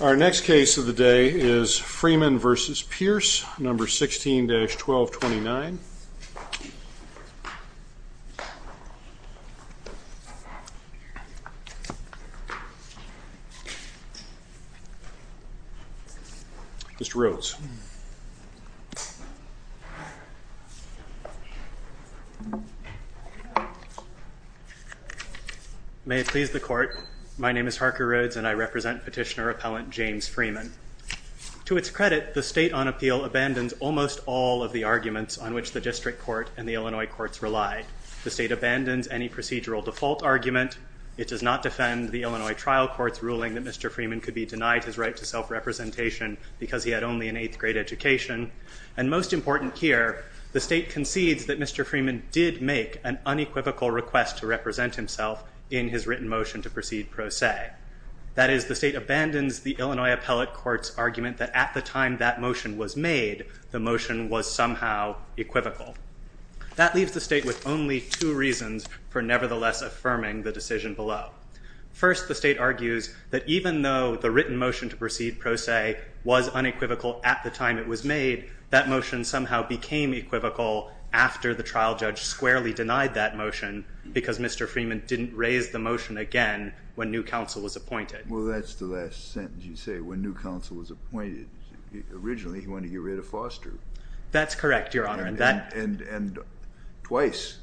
Our next case of the day is Freeman v. Pierce, No. 16-1229. Harker Rhodes May it please the Court. My name is Harker Rhodes and I represent Petitioner-Appellant James Freeman. To its credit, the State on Appeal abandons almost all of the arguments on which the District Court and the Illinois Courts rely. The State abandons any procedural default argument. It does not defend the Illinois Trial Court's ruling that Mr. Freeman could be denied his self-representation because he had only an eighth-grade education. And most important here, the State concedes that Mr. Freeman did make an unequivocal request to represent himself in his written motion to proceed pro se. That is, the State abandons the Illinois Appellate Court's argument that at the time that motion was made, the motion was somehow equivocal. That leaves the State with only two reasons for nevertheless affirming the decision below. First, the State argues that even though the written motion to proceed pro se was unequivocal at the time it was made, that motion somehow became equivocal after the trial judge squarely denied that motion because Mr. Freeman didn't raise the motion again when new counsel was appointed. Well, that's the last sentence you say, when new counsel was appointed. Originally, he wanted to get rid of Foster. That's correct, Your Honor. And twice.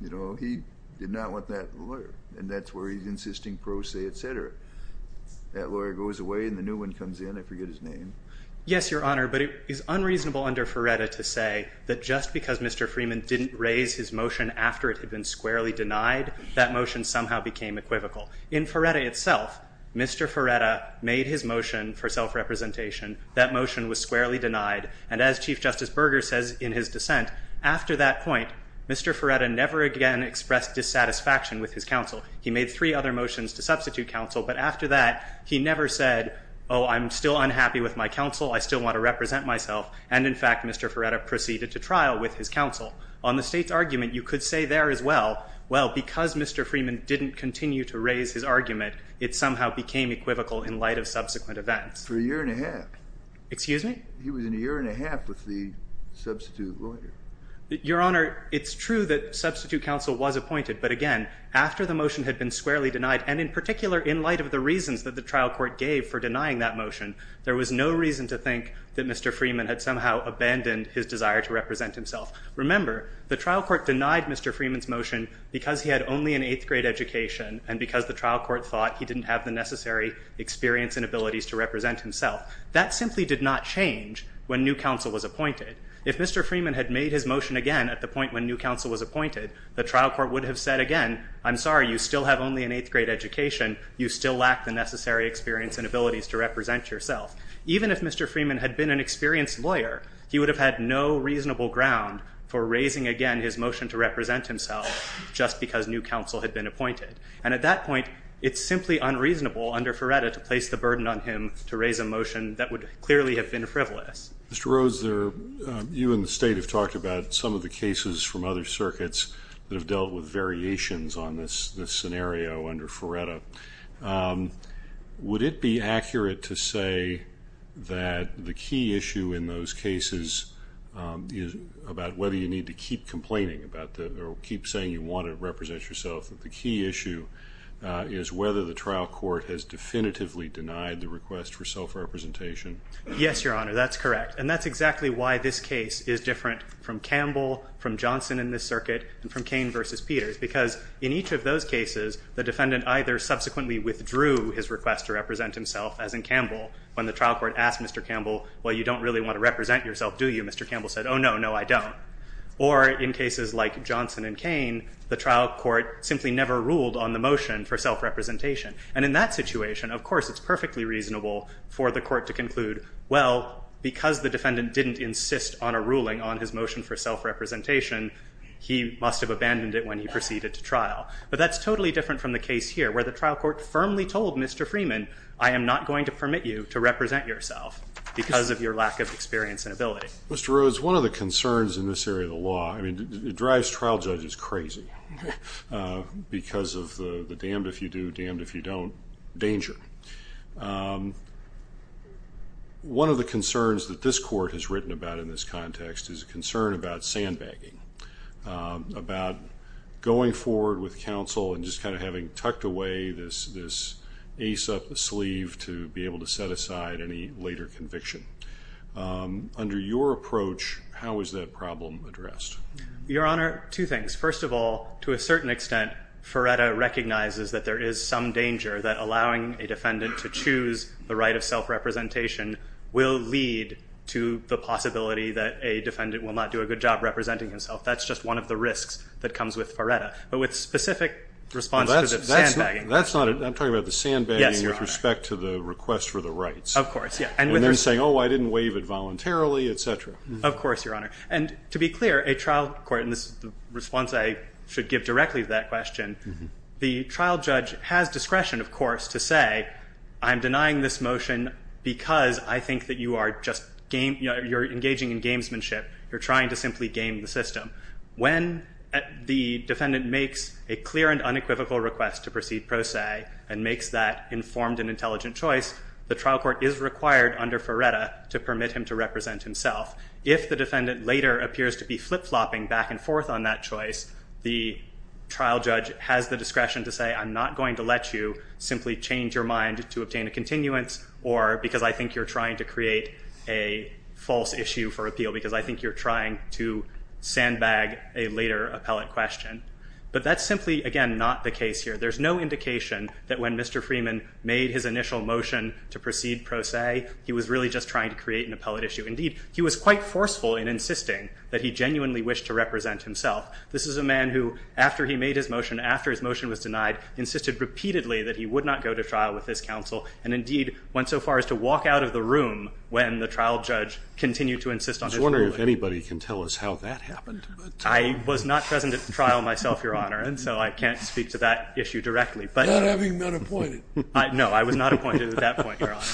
You know, he did not want that lawyer. And that's where he's insisting pro se, et cetera. That lawyer goes away and the new one comes in. I forget his name. Yes, Your Honor. But it is unreasonable under Ferretta to say that just because Mr. Freeman didn't raise his motion after it had been squarely denied, that motion somehow became equivocal. In Ferretta itself, Mr. Ferretta made his motion for self-representation. That motion was squarely denied. And as Chief Justice Berger says in his dissent, after that point, Mr. Ferretta never again expressed dissatisfaction with his counsel. He made three other motions to substitute counsel. But after that, he never said, oh, I'm still unhappy with my counsel. I still want to represent myself. And in fact, Mr. Ferretta proceeded to trial with his counsel. On the state's argument, you could say there as well, well, because Mr. Freeman didn't continue to raise his argument, it somehow became equivocal in light of subsequent events. For a year and a half. Excuse me? He was in a year and a half with the substitute lawyer. Your Honor, it's true that substitute counsel was appointed. But again, after the motion had been squarely denied, and in particular in light of the reasons that the trial court gave for denying that motion, there was no reason to think that Mr. Freeman had somehow abandoned his desire to represent himself. Remember, the trial court denied Mr. Freeman's motion because he had only an eighth grade education and because the trial court thought he didn't have the necessary experience and abilities to represent himself. That simply did not change when new counsel was appointed. If Mr. Freeman had made his motion again at the point when new counsel was appointed, the trial court would have said again, I'm sorry, you still have only an eighth grade education. You still lack the necessary experience and abilities to represent yourself. Even if Mr. Freeman had been an experienced lawyer, he would have had no reasonable ground for raising again his motion to represent himself just because new counsel had been appointed. And at that point, it's simply unreasonable under Ferretta to place the burden on him to make a motion that would clearly have been a frivolous. Mr. Rose, you and the state have talked about some of the cases from other circuits that have dealt with variations on this scenario under Ferretta. Would it be accurate to say that the key issue in those cases is about whether you need to keep complaining about the, or keep saying you want to represent yourself, that the key issue is whether the trial court has definitively denied the request for self-representation? Yes, Your Honor, that's correct. And that's exactly why this case is different from Campbell, from Johnson in this circuit, and from Cain versus Peters. Because in each of those cases, the defendant either subsequently withdrew his request to represent himself, as in Campbell, when the trial court asked Mr. Campbell, well, you don't really want to represent yourself, do you? Mr. Campbell said, oh, no, no, I don't. Or in cases like Johnson and Cain, the trial court simply never ruled on the motion for self-representation. And in that situation, of course, it's perfectly reasonable for the court to conclude, well, because the defendant didn't insist on a ruling on his motion for self-representation, he must have abandoned it when he proceeded to trial. But that's totally different from the case here, where the trial court firmly told Mr. Freeman, I am not going to permit you to represent yourself because of your lack of experience and ability. Mr. Rhodes, one of the concerns in this area of the law, I mean, it drives trial judges crazy because of the damned if you do, damned if you don't danger. One of the concerns that this court has written about in this context is a concern about sandbagging, about going forward with counsel and just kind of having tucked away this ace up the sleeve to be able to set aside any later conviction. Under your approach, how is that problem addressed? Your Honor, two things. First of all, to a certain extent, Ferretta recognizes that there is some danger that allowing a defendant to choose the right of self-representation will lead to the possibility that a defendant will not do a good job representing himself. That's just one of the risks that comes with Ferretta. But with specific response to the sandbagging. That's not it. I'm talking about the sandbagging with respect to the request for the rights. Of course, yeah. And then saying, oh, I didn't waive it voluntarily, et cetera. Of course, Your Honor. And to be clear, a trial court, and this is the response I should give directly to that question, the trial judge has discretion, of course, to say, I'm denying this motion because I think that you are just engaging in gamesmanship. You're trying to simply game the system. When the defendant makes a clear and unequivocal request to proceed pro se and makes that informed and intelligent choice, the trial court is required under Ferretta to permit him to represent himself. If the defendant later appears to be flip-flopping back and forth on that choice, the trial judge has the discretion to say, I'm not going to let you simply change your mind to obtain a continuance or because I think you're trying to create a false issue for appeal because I think you're trying to sandbag a later appellate question. But that's simply, again, not the case here. There's no indication that when Mr. Freeman made his initial motion to proceed pro se, he was really just trying to create an appellate issue. Indeed, he was quite forceful in insisting that he genuinely wished to represent himself. This is a man who, after he made his motion, after his motion was denied, insisted repeatedly that he would not go to trial with this counsel and, indeed, went so far as to walk out of the room when the trial judge continued to insist on his ruling. I was wondering if anybody can tell us how that happened. I was not present at the trial myself, Your Honor, and so I can't speak to that issue directly. Not having been appointed. No, I was not appointed at that point, Your Honor.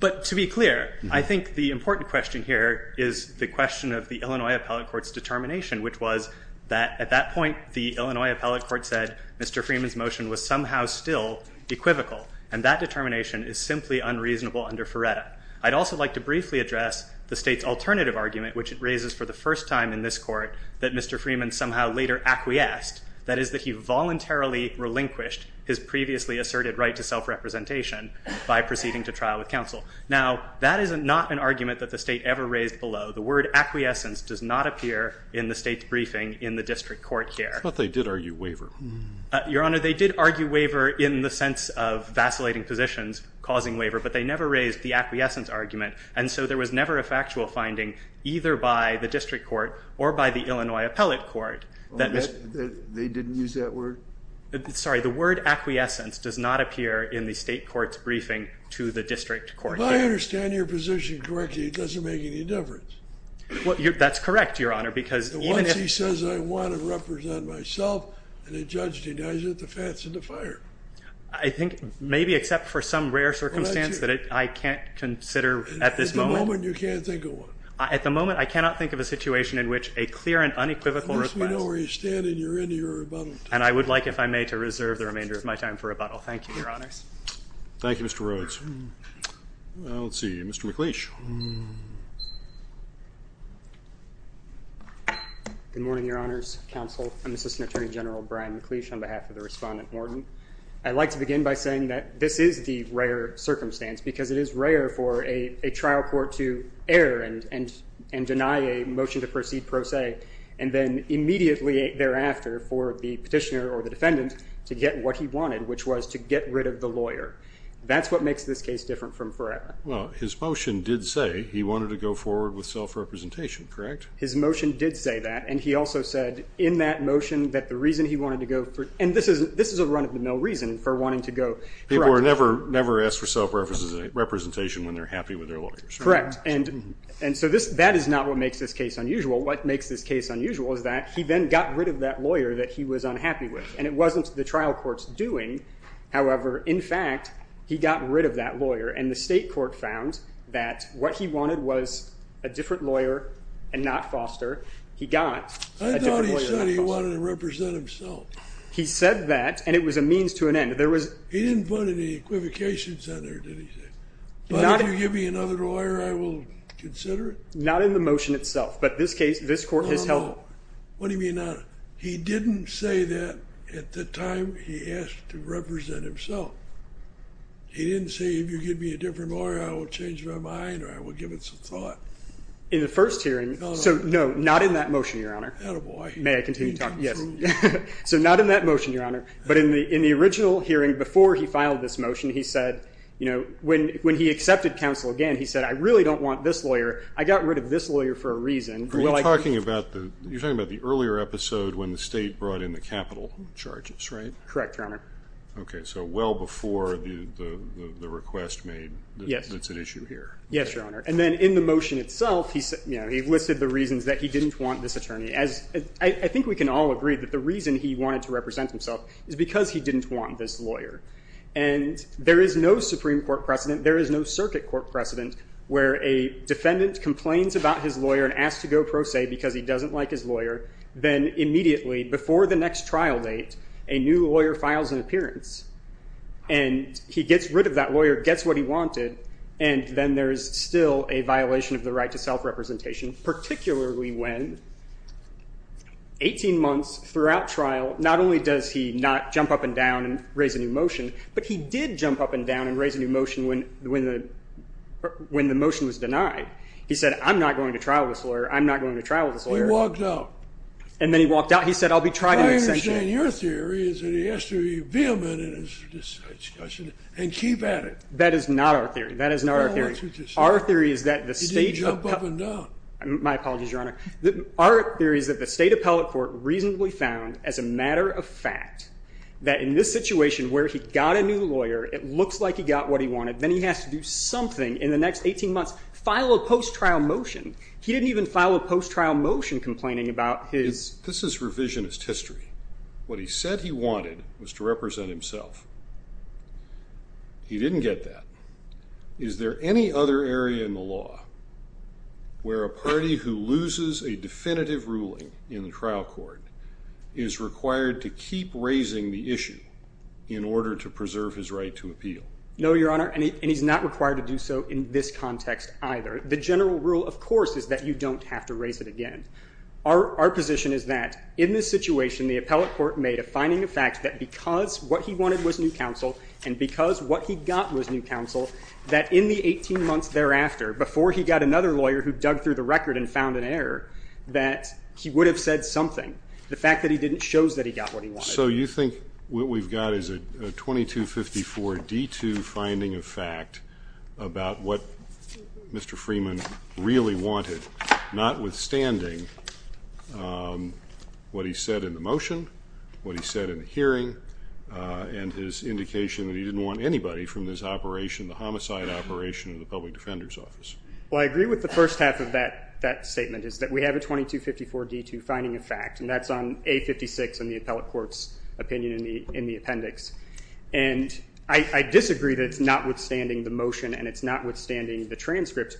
But to be clear, I think the important question here is the question of the Illinois appellate court's determination, which was that at that point, the Illinois appellate court said Mr. Freeman's motion was somehow still equivocal. And that determination is simply unreasonable under Ferretta. I'd also like to briefly address the state's alternative argument, which it raises for the first time in this court that Mr. Freeman somehow later acquiesced, that is that he voluntarily relinquished his previously asserted right to self-representation by proceeding to trial with counsel. Now that is not an argument that the state ever raised below. The word acquiescence does not appear in the state's briefing in the district court here. But they did argue waiver. Your Honor, they did argue waiver in the sense of vacillating positions causing waiver, but they never raised the acquiescence argument. And so there was never a factual finding, either by the district court or by the Illinois appellate court, that Mr. They didn't use that word? Sorry, the word acquiescence does not appear in the state court's briefing to the district court. If I understand your position correctly, it doesn't make any difference. That's correct, Your Honor, because even if Once he says I want to represent myself, and the judge denies it, the fat's in the fire. I think maybe except for some rare circumstance that I can't consider at this moment. At the moment, you can't think of one. At the moment, I cannot think of a situation in which a clear and unequivocal request. At least we know where you stand and you're in to your rebuttal. And I would like, if I may, to reserve the remainder of my time for rebuttal. Thank you, Your Honors. Thank you, Mr. Rhodes. Let's see, Mr. McLeish. Good morning, Your Honors, counsel. I'm Assistant Attorney General Brian McLeish on behalf of the Respondent Morden. And I'd like to begin by saying that this is the rare circumstance, because it is rare for a trial court to err and deny a motion to proceed pro se, and then immediately thereafter for the petitioner or the defendant to get what he wanted, which was to get rid of the lawyer. That's what makes this case different from forever. Well, his motion did say he wanted to go forward with self-representation, correct? His motion did say that, and he also said in that motion that the reason he wanted to go for, and this is a run-of-the-mill reason for wanting to go for representation. People are never asked for self-representation when they're happy with their lawyers. Correct. And so that is not what makes this case unusual. What makes this case unusual is that he then got rid of that lawyer that he was unhappy with. And it wasn't the trial court's doing. However, in fact, he got rid of that lawyer, and the state court found that what he wanted was a different lawyer and not Foster. He got a different lawyer than Foster. He said that, and it was a means to an end. He didn't put any equivocations on there, did he say? But if you give me another lawyer, I will consider it? Not in the motion itself, but this case, this court has held it. What do you mean not? He didn't say that at the time he asked to represent himself. He didn't say, if you give me a different lawyer, I will change my mind or I will give it some thought. In the first hearing, so no, not in that motion, Your Honor. Attaboy. May I continue talking? Yes. So not in that motion, Your Honor. But in the original hearing, before he filed this motion, he said, you know, when he accepted counsel again, he said, I really don't want this lawyer. I got rid of this lawyer for a reason. Are you talking about the earlier episode when the state brought in the capital charges, right? Correct, Your Honor. OK. So well before the request made, that's an issue here. Yes, Your Honor. And then in the motion itself, he listed the reasons that he didn't want this attorney. I think we can all agree that the reason he wanted to represent himself is because he didn't want this lawyer. And there is no Supreme Court precedent, there is no circuit court precedent, where a defendant complains about his lawyer and asks to go pro se because he doesn't like his lawyer. Then immediately before the next trial date, a new lawyer files an appearance. And he gets rid of that lawyer, gets what he wanted, and then there is still a violation of the right to self-representation, particularly when 18 months throughout trial, not only does he not jump up and down and raise a new motion, but he did jump up and down and raise a new motion when the motion was denied. He said, I'm not going to trial this lawyer. I'm not going to trial this lawyer. He walked out. And then he walked out. He said, I'll be tried in extension. I understand your theory is that he has to be vehement in his discussion and keep at it. That is not our theory. That is not our theory. Our theory is that the state appellate court reasonably found, as a matter of fact, that in this situation where he got a new lawyer, it looks like he got what he wanted, then he has to do something in the next 18 months, file a post-trial motion. He didn't even file a post-trial motion complaining about his... This is revisionist history. What he said he wanted was to represent himself. He didn't get that. Is there any other area in the law where a party who loses a definitive ruling in the trial court is required to keep raising the issue in order to preserve his right to appeal? No, Your Honor. And he's not required to do so in this context either. The general rule, of course, is that you don't have to raise it again. Our position is that in this situation, the appellate court made a finding of fact that because what he wanted was new counsel and because what he got was new counsel, that in the 18 months thereafter, before he got another lawyer who dug through the record and found an error, that he would have said something. The fact that he didn't shows that he got what he wanted. So you think what we've got is a 2254 D2 finding of fact about what Mr. Freeman really wanted, notwithstanding what he said in the motion, what he said in the hearing, and his indication that he didn't want anybody from this operation, the homicide operation of the Public Defender's Office. Well, I agree with the first half of that statement, is that we have a 2254 D2 finding of fact, and that's on A56 in the appellate court's opinion in the appendix. And I disagree that it's notwithstanding the motion and it's notwithstanding the transcripts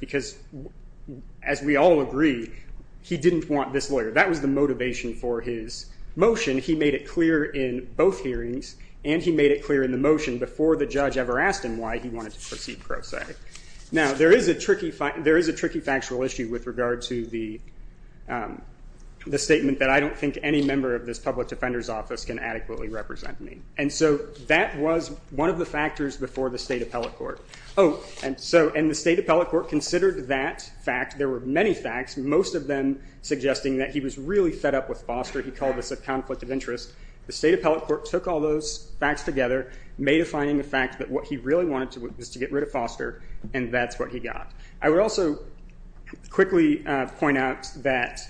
as we all agree, he didn't want this lawyer. That was the motivation for his motion. He made it clear in both hearings and he made it clear in the motion before the judge ever asked him why he wanted to proceed pro se. Now there is a tricky factual issue with regard to the statement that I don't think any member of this Public Defender's Office can adequately represent me. And so that was one of the factors before the state appellate court. Oh, and so, and the state appellate court considered that fact. There were many facts, most of them suggesting that he was really fed up with Foster. He called this a conflict of interest. The state appellate court took all those facts together, made a finding of fact that what he really wanted to do was to get rid of Foster, and that's what he got. I would also quickly point out that-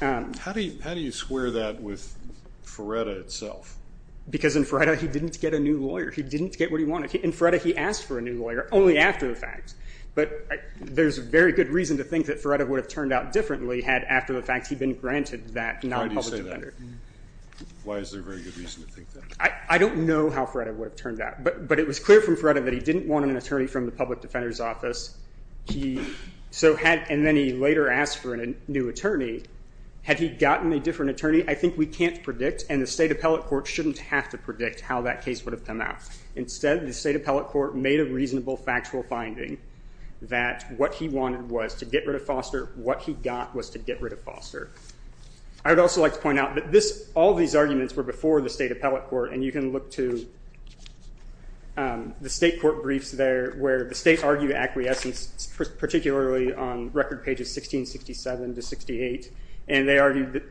How do you square that with Ferretta itself? Because in Ferretta he didn't get a new lawyer. He didn't get what he wanted. In Ferretta he asked for a new lawyer only after the fact. But there's a very good reason to think that Ferretta would have turned out differently had after the fact he'd been granted that non-public defender. Why do you say that? Why is there a very good reason to think that? I don't know how Ferretta would have turned out, but it was clear from Ferretta that he didn't want an attorney from the Public Defender's Office. He so had, and then he later asked for a new attorney. Had he gotten a different attorney, I think we can't predict, and the state appellate court shouldn't have to predict how that case would have come out. Instead, the state appellate court made a reasonable factual finding that what he wanted was to get rid of Foster. What he got was to get rid of Foster. I would also like to point out that all these arguments were before the state appellate court, and you can look to the state court briefs there where the states argue acquiescence, particularly on record pages 1667 to 68, and they argue that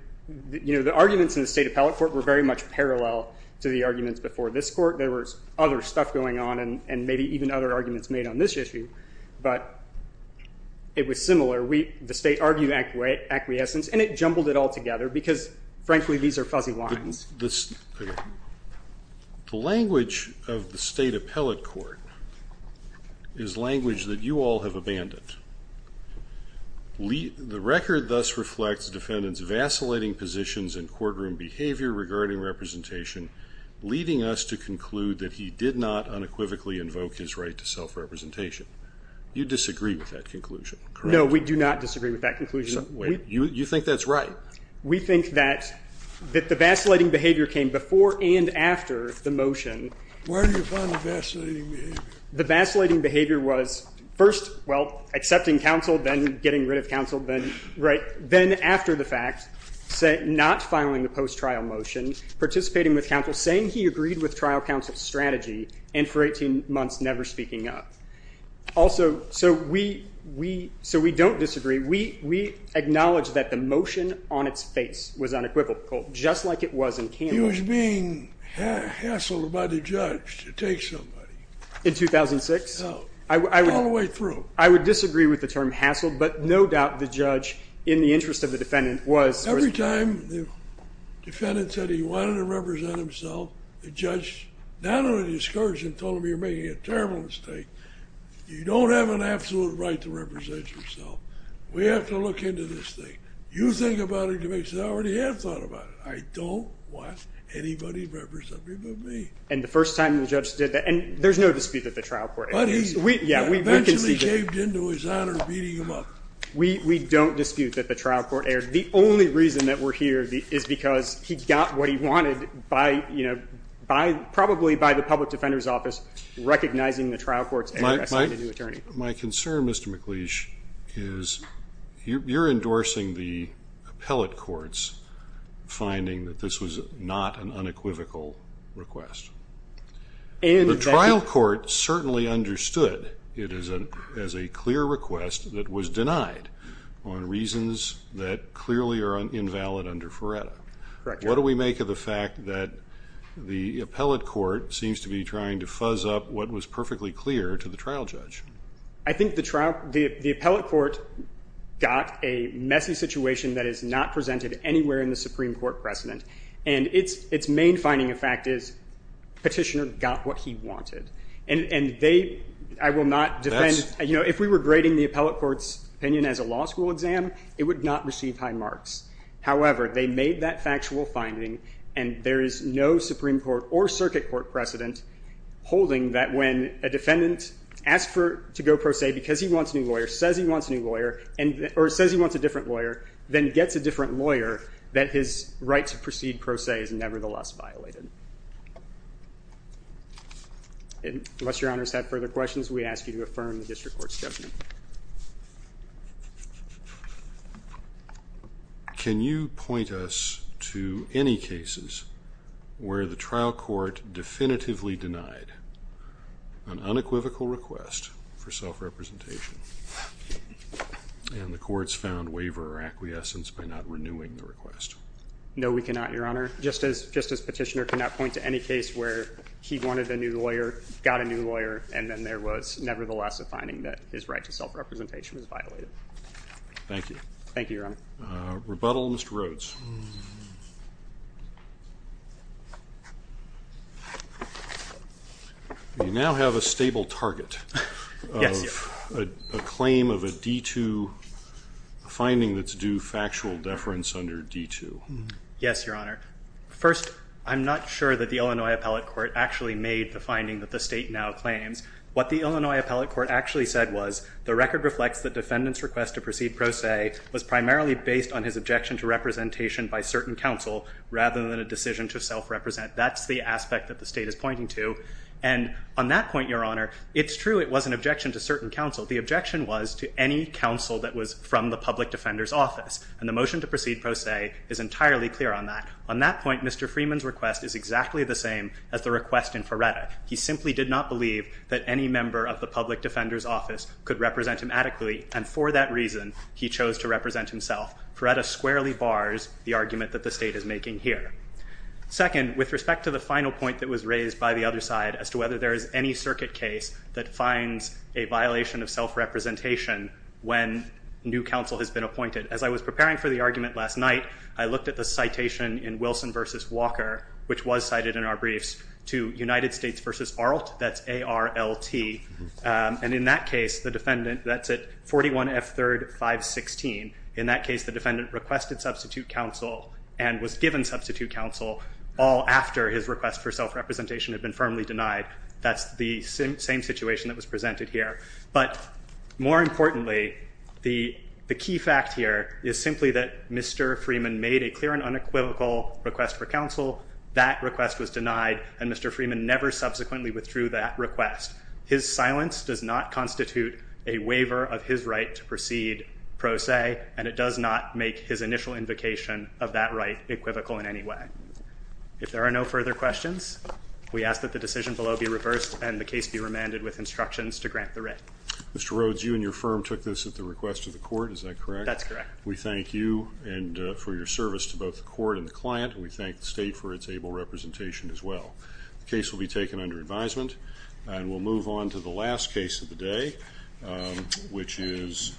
the arguments in the state appellate court were very much parallel to the arguments before this court. There was other stuff going on, and maybe even other arguments made on this issue, but it was similar. The state argued acquiescence, and it jumbled it all together because, frankly, these are fuzzy lines. The language of the state appellate court is language that you all have abandoned. The record thus reflects defendants' vacillating positions in courtroom behavior regarding representation, leading us to conclude that he did not unequivocally invoke his right to self-representation. You disagree with that conclusion, correct? No, we do not disagree with that conclusion. You think that's right? We think that the vacillating behavior came before and after the motion. Where do you find the vacillating behavior? The vacillating behavior was first, well, accepting counsel, then getting rid of counsel, then after the fact, not filing the post-trial motion, participating with counsel, saying he agreed with trial counsel's strategy, and for 18 months never speaking up. Also, so we don't disagree. We acknowledge that the motion on its face was unequivocal, just like it was in Candler's case. He was being hassled by the judge to take somebody. In 2006? No. All the way through. I would disagree with the term hassled, but no doubt the judge, in the interest of the defendant, was— Every time the defendant said he wanted to represent himself, the judge not only discouraged him and told him, you're making a terrible mistake, you don't have an absolute right to represent yourself. We have to look into this thing. You think about it to make sure—I already have thought about it. I don't want anybody representing but me. And the first time the judge did that—and there's no dispute that the trial court— But he eventually caved into his honor, beating him up. We don't dispute that the trial court erred. The only reason that we're here is because he got what he wanted by, you know, probably by the public defender's office recognizing the trial court's arrest of a new attorney. My concern, Mr. McLeish, is you're endorsing the appellate courts finding that this was not an unequivocal request. The trial court certainly understood it as a clear request that was denied on reasons that clearly are invalid under Ferretta. Correct, Your Honor. What do we make of the fact that the appellate court seems to be trying to fuzz up what was perfectly clear to the trial judge? I think the trial—the appellate court got a messy situation that is not presented anywhere in the Supreme Court precedent. And its main finding, in fact, is petitioner got what he wanted. And they—I will not defend—you know, if we were grading the appellate court's opinion as a law school exam, it would not receive high marks. However, they made that factual finding, and there is no Supreme Court or circuit court precedent holding that when a defendant asks to go pro se because he wants a new lawyer, says he wants a new lawyer, or says he wants a different lawyer, then gets a different pro se is nevertheless violated. Unless Your Honor has had further questions, we ask you to affirm the district court's judgment. Can you point us to any cases where the trial court definitively denied an unequivocal request for self-representation, and the courts found waiver or acquiescence by not renewing the request? No, we cannot, Your Honor. Just as petitioner cannot point to any case where he wanted a new lawyer, got a new lawyer, and then there was nevertheless a finding that his right to self-representation was violated. Thank you. Thank you, Your Honor. Rebuttal, Mr. Rhodes. You now have a stable target of a claim of a D-2 finding that's due factual deference under D-2. Yes, Your Honor. First, I'm not sure that the Illinois Appellate Court actually made the finding that the state now claims. What the Illinois Appellate Court actually said was, the record reflects the defendant's request to proceed pro se was primarily based on his objection to representation by certain counsel rather than a decision to self-represent. That's the aspect that the state is pointing to. And on that point, Your Honor, it's true it was an objection to certain counsel. The objection was to any counsel that was from the public defender's office. And the motion to proceed pro se is entirely clear on that. On that point, Mr. Freeman's request is exactly the same as the request in Ferretta. He simply did not believe that any member of the public defender's office could represent him adequately. And for that reason, he chose to represent himself. Ferretta squarely bars the argument that the state is making here. Second, with respect to the final point that was raised by the other side as to whether there is any circuit case that finds a violation of self-representation when new counsel has been appointed. As I was preparing for the argument last night, I looked at the citation in Wilson v. Walker, which was cited in our briefs, to United States v. Arlt, that's A-R-L-T. And in that case, the defendant, that's at 41 F. 3rd 516. In that case, the defendant requested substitute counsel and was given substitute counsel all after his request for self-representation had been firmly denied. That's the same situation that was presented here. But more importantly, the key fact here is simply that Mr. Freeman made a clear and unequivocal request for counsel. That request was denied, and Mr. Freeman never subsequently withdrew that request. His silence does not constitute a waiver of his right to proceed pro se, and it does not make his initial invocation of that right equivocal in any way. If there are no further questions, we ask that the decision below be reversed and the Mr. Rhodes, you and your firm took this at the request of the court, is that correct? That's correct. We thank you for your service to both the court and the client, and we thank the state for its able representation as well. The case will be taken under advisement, and we'll move on to the last case of the day, which is